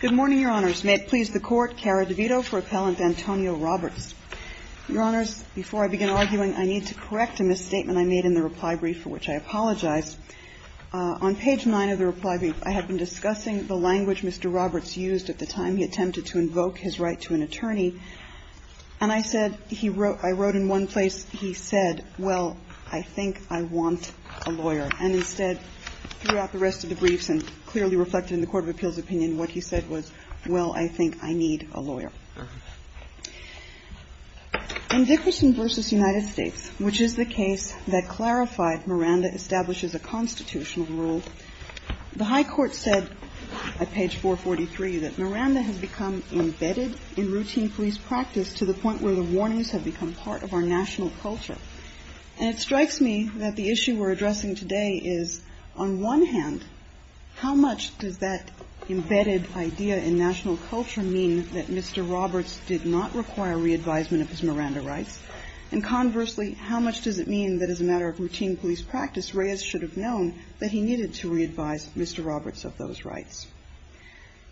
Good morning, Your Honors. May it please the Court, Kara DeVito for Appellant Antonio Roberts. Your Honors, before I begin arguing, I need to correct a misstatement I made in the reply brief, for which I apologize. On page 9 of the reply brief, I had been discussing the language Mr. Roberts used at the time he attempted to invoke his right to an attorney, and I said he wrote I wrote in one place, he said, well, I think I want a lawyer. And instead, throughout the rest of the briefs, and clearly reflected in the Court of Appeals opinion, what he said was, well, I think I need a lawyer. In Dickerson v. United States, which is the case that clarified Miranda establishes a constitutional rule, the High Court said, at page 443, that Miranda has become embedded in routine police practice to the point where the warnings have become part of our national culture. And it strikes me that the issue we're addressing today is, on one hand, how much does that embedded idea in national culture mean that Mr. Roberts did not require re-advisement of his Miranda rights? And conversely, how much does it mean that as a matter of routine police practice, Reyes should have known that he needed to re-advise Mr. Roberts of those rights?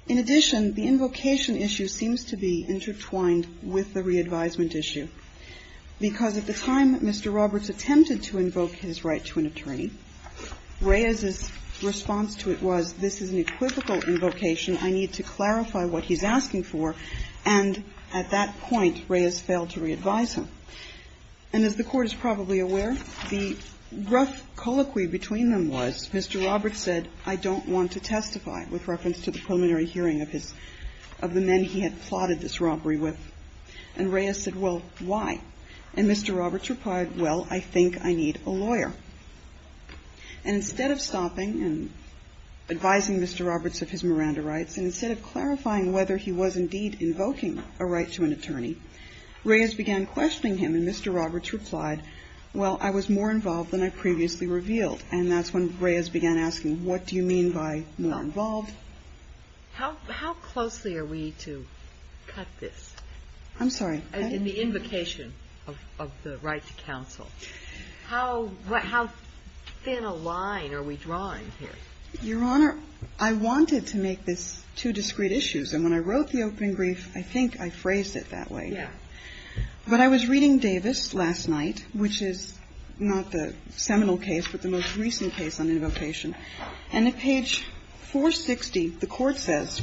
In addition, the invocation issue seems to be intertwined with the re-advisement issue, because at the time that Mr. Roberts attempted to invoke his right to an attorney, Reyes's response to it was, this is an equivocal invocation. I need to clarify what he's asking for. And at that point, Reyes failed to re-advise him. And as the Court is probably aware, the rough colloquy between them was Mr. Roberts said, I don't want to testify, with reference to the preliminary hearing of his – of the men he had plotted this robbery with. And Reyes said, well, why? And Mr. Roberts replied, well, I think I need a lawyer. And instead of stopping and advising Mr. Roberts of his Miranda rights, and instead of clarifying whether he was indeed invoking a right to an attorney, Reyes began questioning him. And Mr. Roberts replied, well, I was more involved than I previously revealed. And that's when Reyes began asking, what do you mean by more involved? How closely are we to cut this? I'm sorry. In the invocation of the right to counsel. How thin a line are we drawing here? Your Honor, I wanted to make this two discrete issues. And when I wrote the open brief, I think I phrased it that way. Yeah. But I was reading Davis last night, which is not the seminal case, but the most In the case of Episode 60, the Court says,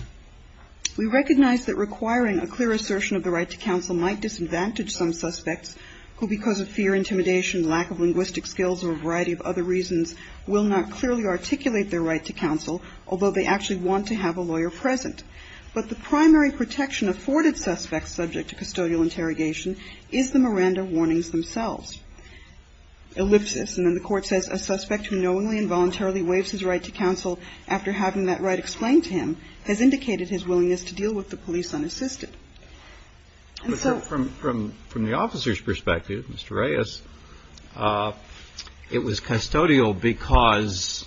We recognize that requiring a clear assertion of the right to counsel might disadvantage some suspects, who because of fear, intimidation, lack of linguistic skills, or a variety of other reasons will not clearly articulate their right to counsel, although they actually want to have a lawyer present. But the primary protection afforded suspects subject to custodial interrogation is the Miranda warnings themselves. Ellipsis. And then the Court says, A suspect who knowingly and voluntarily waives his right to counsel after having that right explained to him has indicated his willingness to deal with the police unassisted. And so from the officer's perspective, Mr. Reyes, it was custodial because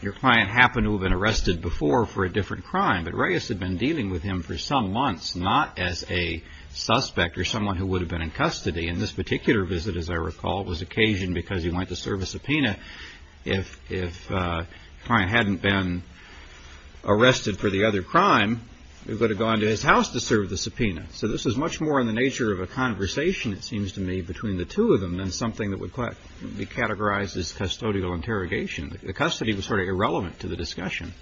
your client happened to have been arrested before for a different crime. But Reyes had been dealing with him for some months, not as a suspect or someone who would have been in custody. And this particular visit, as I recall, was occasioned because he went to serve a subpoena. If the client hadn't been arrested for the other crime, they would have gone to his house to serve the subpoena. So this is much more in the nature of a conversation, it seems to me, between the two of them than something that would be categorized as custodial interrogation. The custody was sort of irrelevant to the discussion.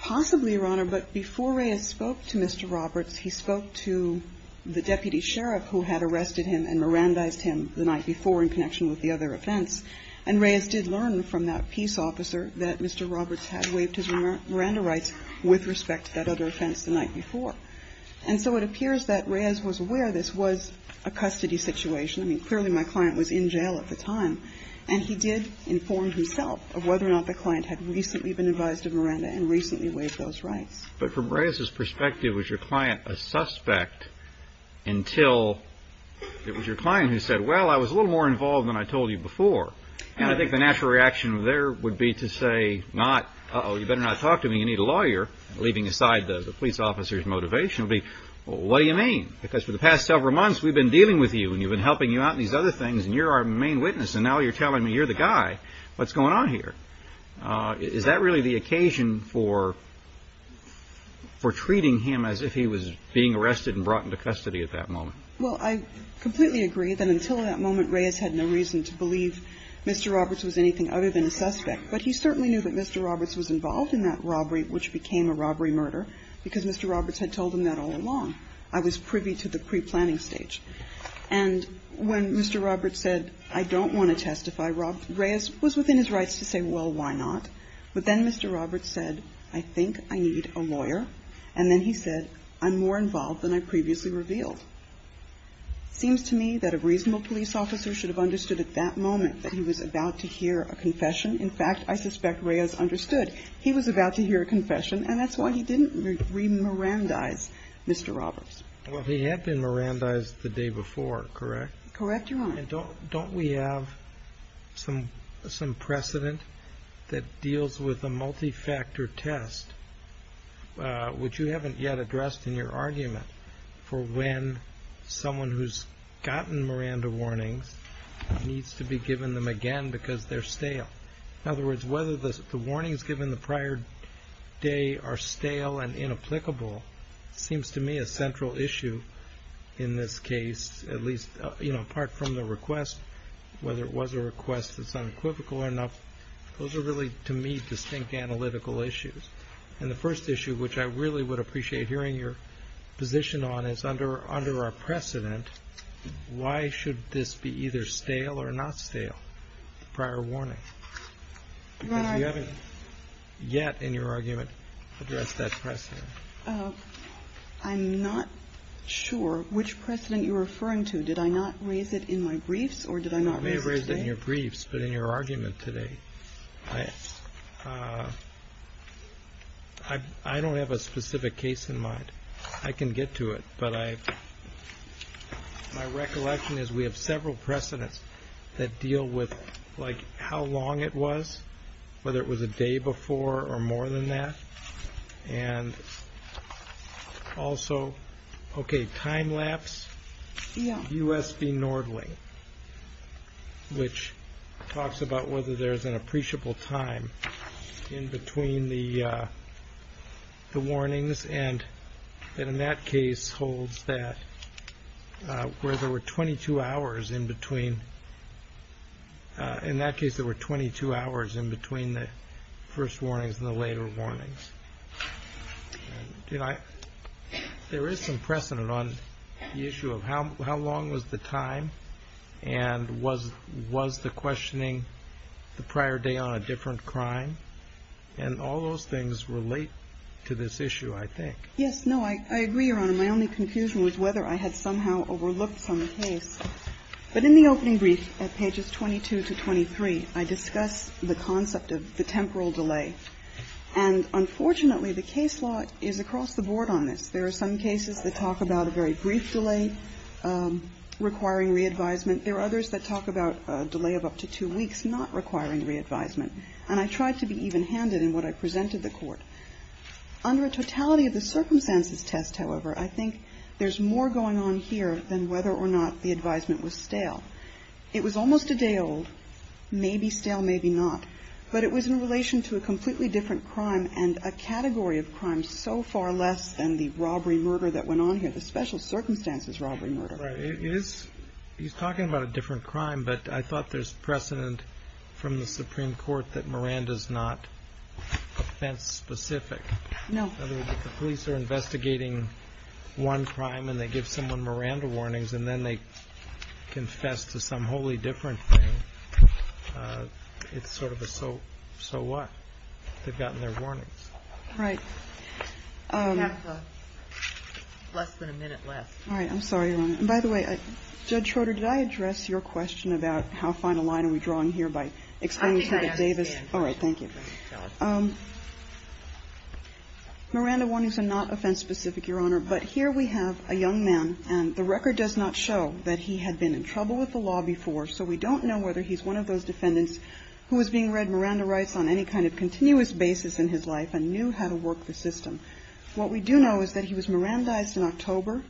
Possibly, Your Honor, but before Reyes spoke to Mr. Roberts, he spoke to the deputy sheriff who had arrested him and Mirandized him the night before in connection with the other offense. And Reyes did learn from that peace officer that Mr. Roberts had waived his Miranda rights with respect to that other offense the night before. And so it appears that Reyes was aware this was a custody situation. I mean, clearly my client was in jail at the time. And he did inform himself of whether or not the client had recently been advised of Miranda and recently waived those rights. But from Reyes's perspective, was your client a suspect until it was your client who said, well, I was a little more involved than I told you before. And I think the natural reaction there would be to say not, uh-oh, you better not talk to me, you need a lawyer. Leaving aside the police officer's motivation would be, well, what do you mean? Because for the past several months, we've been dealing with you, and you've been helping you out in these other things, and you're our main witness. And now you're telling me you're the guy. What's going on here? Is that really the occasion for treating him as if he was being arrested and brought into custody at that moment? Well, I completely agree that until that moment, Reyes had no reason to believe Mr. Roberts was anything other than a suspect. But he certainly knew that Mr. Roberts was involved in that robbery, which became a robbery murder, because Mr. Roberts had told him that all along. I was privy to the pre-planning stage. And when Mr. Roberts said, I don't want to testify, Reyes was within his rights to say, well, why not? But then Mr. Roberts said, I think I need a lawyer. And then he said, I'm more involved than I previously revealed. Seems to me that a reasonable police officer should have understood at that moment that he was about to hear a confession. In fact, I suspect Reyes understood he was about to hear a confession, and that's why he didn't re-Mirandize Mr. Roberts. Well, he had been Mirandized the day before, correct? Correct, Your Honor. And don't we have some precedent that deals with a multi-factor test, which you haven't yet addressed in your argument, for when someone who's gotten Miranda warnings needs to be given them again because they're stale? In other words, whether the warnings given the prior day are stale and inapplicable seems to me a central issue in this case, at least apart from the request, whether it was a request that's unequivocal or not, those are really, to me, distinct analytical issues. And the first issue, which I really would appreciate hearing your position on, is under our precedent, why should this be either stale or not stale, prior warning? Your Honor. Because you haven't yet, in your argument, addressed that precedent. I'm not sure which precedent you're referring to. Did I not raise it in my briefs, or did I not raise it today? You may have raised it in your briefs, but in your argument today, I don't have a specific case in mind. I can get to it. But my recollection is we have several precedents that deal with how long it was, whether it was a day before or more than that. And also, OK, time lapse, USB Nordling, which talks about whether there's an appreciable time in between the warnings. And in that case holds that where there were 22 hours in between, in that case there is some precedent on the issue of how long was the time, and was the questioning the prior day on a different crime? And all those things relate to this issue, I think. No, I agree, Your Honor. My only confusion was whether I had somehow overlooked some case. But in the opening brief at pages 22 to 23, I discussed the concept of the temporal delay. And unfortunately, the case law is across the board on this. There are some cases that talk about a very brief delay requiring re-advisement. There are others that talk about a delay of up to two weeks not requiring re-advisement. And I tried to be even-handed in what I presented to the Court. Under a totality of the circumstances test, however, I think there's more going on here than whether or not the advisement was stale. It was almost a day old, maybe stale, maybe not. But it was in relation to a completely different crime and a category of crime so far less than the robbery murder that went on here, the special circumstances robbery murder. Right. He's talking about a different crime, but I thought there's precedent from the Supreme Court that Miranda's not offense-specific. No. In other words, if the police are investigating one crime and they give someone Miranda warnings, and then they confess to some wholly different thing, it's sort of a so what? They've gotten their warnings. Right. We have less than a minute left. All right. I'm sorry, Your Honor. And by the way, Judge Schroeder, did I address your question about how fine a line are we drawing here by explaining to David Davis? I think I asked him. All right. Thank you. Go ahead. Miranda warnings are not offense-specific, Your Honor. But here we have a young man, and the record does not show that he had been in trouble with the law before, so we don't know whether he's one of those defendants who was being read Miranda rights on any kind of continuous basis in his life and knew how to work the system. What we do know is that he was Mirandized in October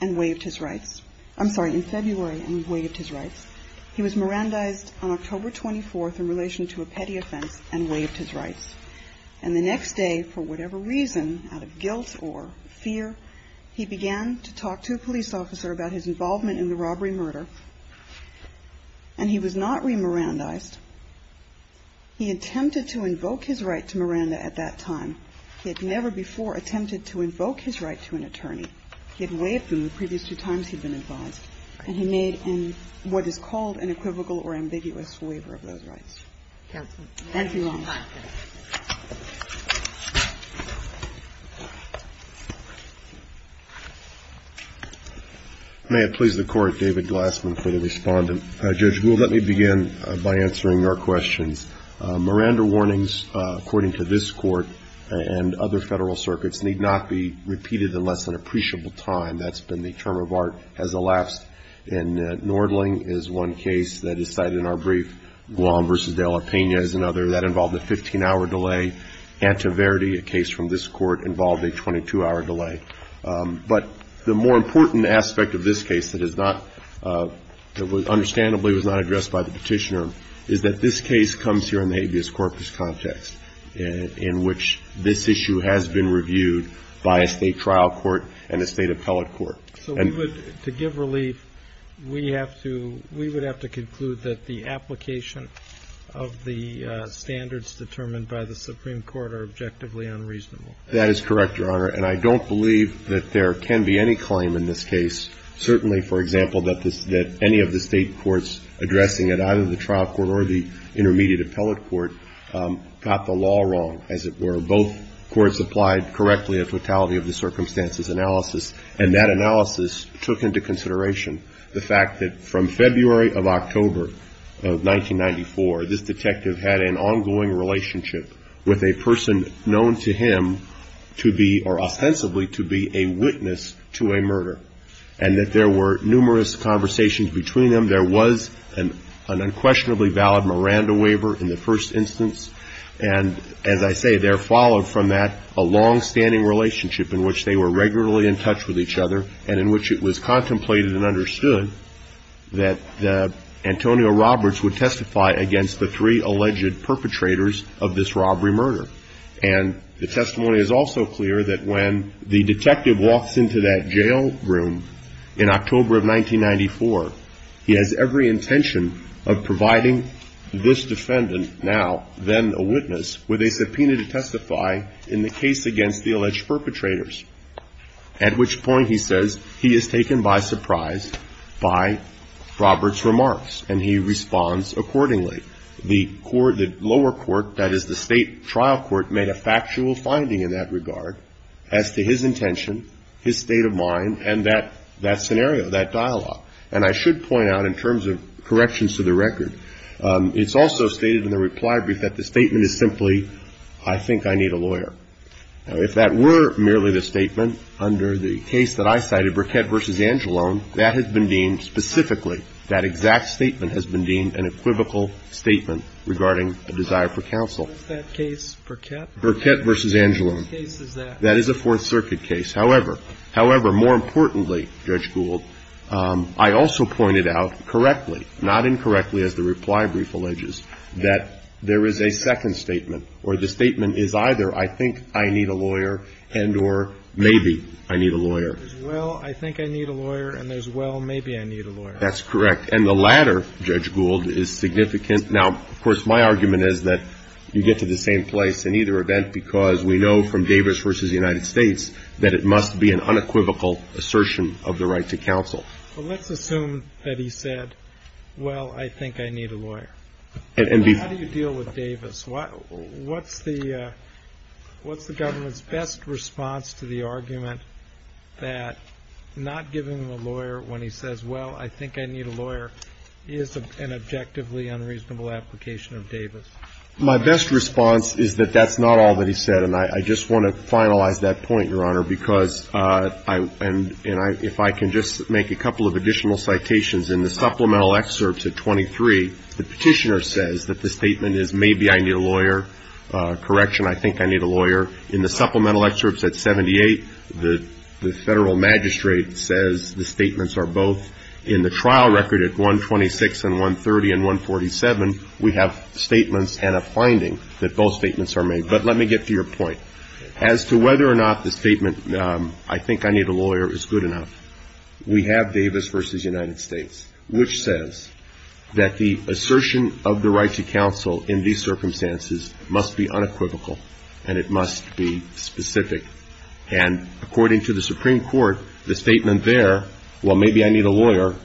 and waived his rights. I'm sorry, in February and waived his rights. He was Mirandized on October 24th in relation to a petty offense and waived his rights. And the next day, for whatever reason, out of guilt or fear, he began to talk to a police officer about his involvement in the robbery murder, and he was not re-Mirandized. He attempted to invoke his right to Miranda at that time. He had never before attempted to invoke his right to an attorney. He had waived them the previous two times he'd been advised, and he made what is called an equivocal or ambiguous waiver of those rights. Thank you, Your Honor. May it please the Court, David Glassman for the Respondent. Judge, let me begin by answering your questions. Miranda warnings, according to this Court and other Federal circuits, need not be repeated unless at an appreciable time. That's been the term of art, has elapsed, and Nordling is one case that is cited in our brief. Guam v. De La Pena is another. That involved a 15-hour delay. Antiverdi, a case from this Court, involved a 22-hour delay. But the more important aspect of this case that is not – that was – understandably was not addressed by the Petitioner is that this case comes here in the habeas corpus context in which this issue has been reviewed by a State trial court and a State appellate court. So we would – to give relief, we have to – we would have to conclude that the application of the standards determined by the Supreme Court are objectively unreasonable. That is correct, Your Honor. And I don't believe that there can be any claim in this case, certainly, for example, that any of the State courts addressing it, either the trial court or the intermediate appellate court, got the law wrong, as it were. Both courts applied correctly a fatality of the circumstances analysis, and that analysis took into consideration the fact that from February of October of 1994, this detective had an ongoing relationship with a person known to him to be – or ostensibly to be a witness to a murder, and that there were numerous conversations between them. There was an unquestionably valid Miranda waiver in the first instance, and as I say, there followed from that a longstanding relationship in which they were regularly in touch with each other and in which it was contemplated and understood that Antonio Roberts would perpetrators of this robbery murder. And the testimony is also clear that when the detective walks into that jail room in October of 1994, he has every intention of providing this defendant now, then a witness, with a subpoena to testify in the case against the alleged perpetrators, at which point, he says, he is taken by surprise by Roberts' remarks, and he responds accordingly. The lower court, that is the State trial court, made a factual finding in that regard as to his intention, his state of mind, and that scenario, that dialogue. And I should point out in terms of corrections to the record, it's also stated in the reply brief that the statement is simply, I think I need a lawyer. Now, if that were merely the statement under the case that I cited, Burkett v. Angelone, that has been deemed specifically, that exact statement has been deemed an equivocal statement regarding a desire for counsel. What is that case, Burkett? Burkett v. Angelone. Which case is that? That is a Fourth Circuit case. However, more importantly, Judge Gould, I also pointed out correctly, not incorrectly as the reply brief alleges, that there is a second statement where the statement is, well, I think I need a lawyer, and there's, well, maybe I need a lawyer. That's correct. And the latter, Judge Gould, is significant. Now, of course, my argument is that you get to the same place in either event, because we know from Davis v. United States that it must be an unequivocal assertion of the right to counsel. Well, let's assume that he said, well, I think I need a lawyer. And how do you deal with Davis? What's the government's best response to the argument that not giving him a lawyer when he says, well, I think I need a lawyer, is an objectively unreasonable application of Davis? My best response is that that's not all that he said. And I just want to finalize that point, Your Honor, because I am, and I, if I can just make a couple of additional citations, in the supplemental excerpts at 23, the lawyer, correction, I think I need a lawyer. In the supplemental excerpts at 78, the federal magistrate says the statements are both in the trial record at 126 and 130 and 147. We have statements and a finding that both statements are made. But let me get to your point. As to whether or not the statement, I think I need a lawyer, is good enough. We have Davis v. United States, which says that the assertion of the right to counsel in these circumstances must be unequivocal, and it must be specific. And according to the Supreme Court, the statement there, well, maybe I need a lawyer,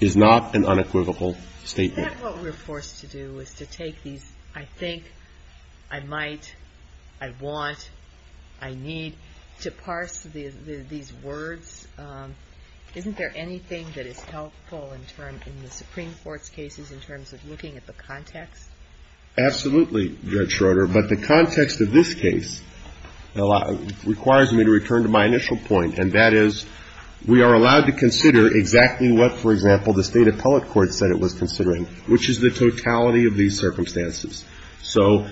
is not an unequivocal statement. Is that what we're forced to do, is to take these, I think, I might, I want, I need, to parse these words? Isn't there anything that is helpful in the Supreme Court's cases in terms of looking at the context? Absolutely, Judge Schroeder. But the context of this case requires me to return to my initial point. And that is, we are allowed to consider exactly what, for example, the State Appellate Court said it was considering, which is the totality of these circumstances. So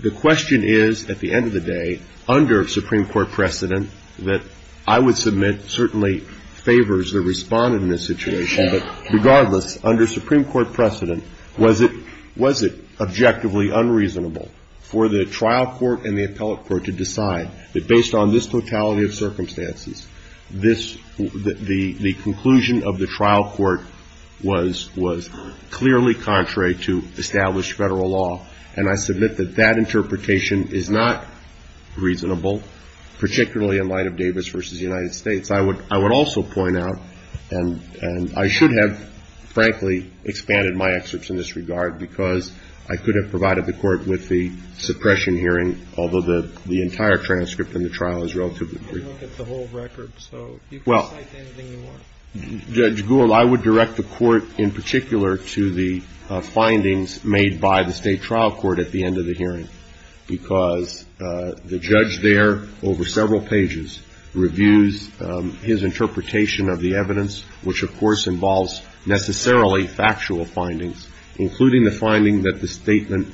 the question is, at the end of the day, under Supreme Court precedent, that I would submit certainly favors the respondent in this situation. But regardless, under Supreme Court precedent, was it objectively unreasonable for the trial court and the appellate court to decide that based on this totality of circumstances, this, the conclusion of the trial court was clearly contrary to established Federal law. And I submit that that interpretation is not reasonable, particularly in light of Davis versus the United States. I would also point out, and I should have, frankly, expanded my excerpts in this regard, because I could have provided the court with the suppression hearing, although the entire transcript in the trial is relatively brief. You didn't look at the whole record, so you can cite anything you want. Judge Gould, I would direct the court in particular to the findings made by the State Trial Court at the end of the hearing. Because the judge there, over several pages, reviews his interpretation of the evidence, which of course involves necessarily factual findings, including the finding that the statement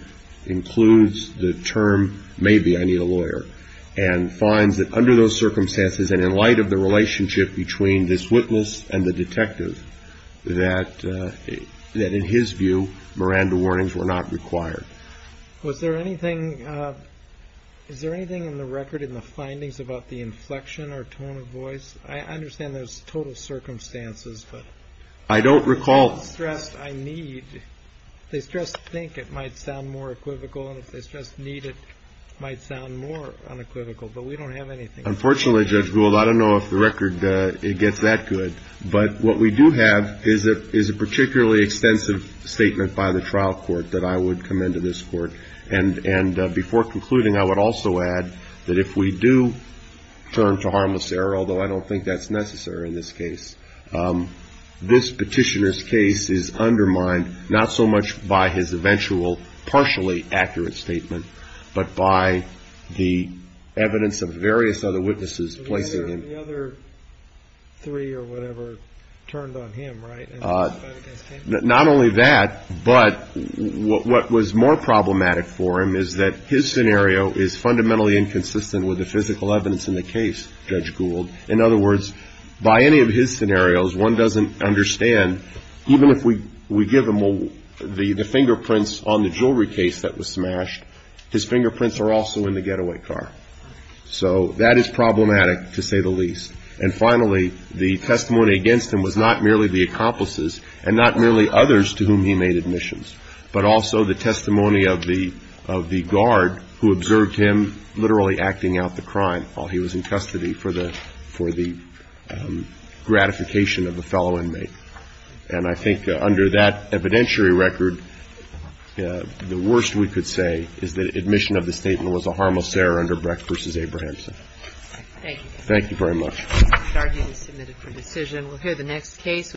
includes the term, maybe I need a lawyer. And finds that under those circumstances, and in light of the relationship between this witness and the detective, that in his view, Miranda warnings were not required. Was there anything, is there anything in the record in the findings about the inflection or tone of voice? I understand there's total circumstances, but. I don't recall. They stressed I need. They stressed think it might sound more equivocal. And if they stressed need it might sound more unequivocal. But we don't have anything. Unfortunately, Judge Gould, I don't know if the record, it gets that good. But what we do have is a particularly extensive statement by the trial court that I would commend to this court. And before concluding, I would also add that if we do turn to harmless error, although I don't think that's necessary in this case, this petitioner's case is undermined, not so much by his eventual partially accurate statement. But by the evidence of various other witnesses placing him. The other three or whatever turned on him, right? Not only that, but what was more problematic for him is that his scenario is fundamentally inconsistent with the physical evidence in the case, Judge Gould. In other words, by any of his scenarios, one doesn't understand, even if we give him the fingerprints on the jewelry case that was smashed, his fingerprints are also in the getaway car. So that is problematic, to say the least. And finally, the testimony against him was not merely the accomplices and not merely others to whom he made admissions, but also the testimony of the guard who observed him literally acting out the crime while he was in custody for the gratification of a fellow inmate. And I think under that evidentiary record, the worst we could say is that admission of the statement was a harmless error under Brecht v. Abrahamsen. Thank you. Thank you very much. Our hearing is submitted for decision. We'll hear the next case.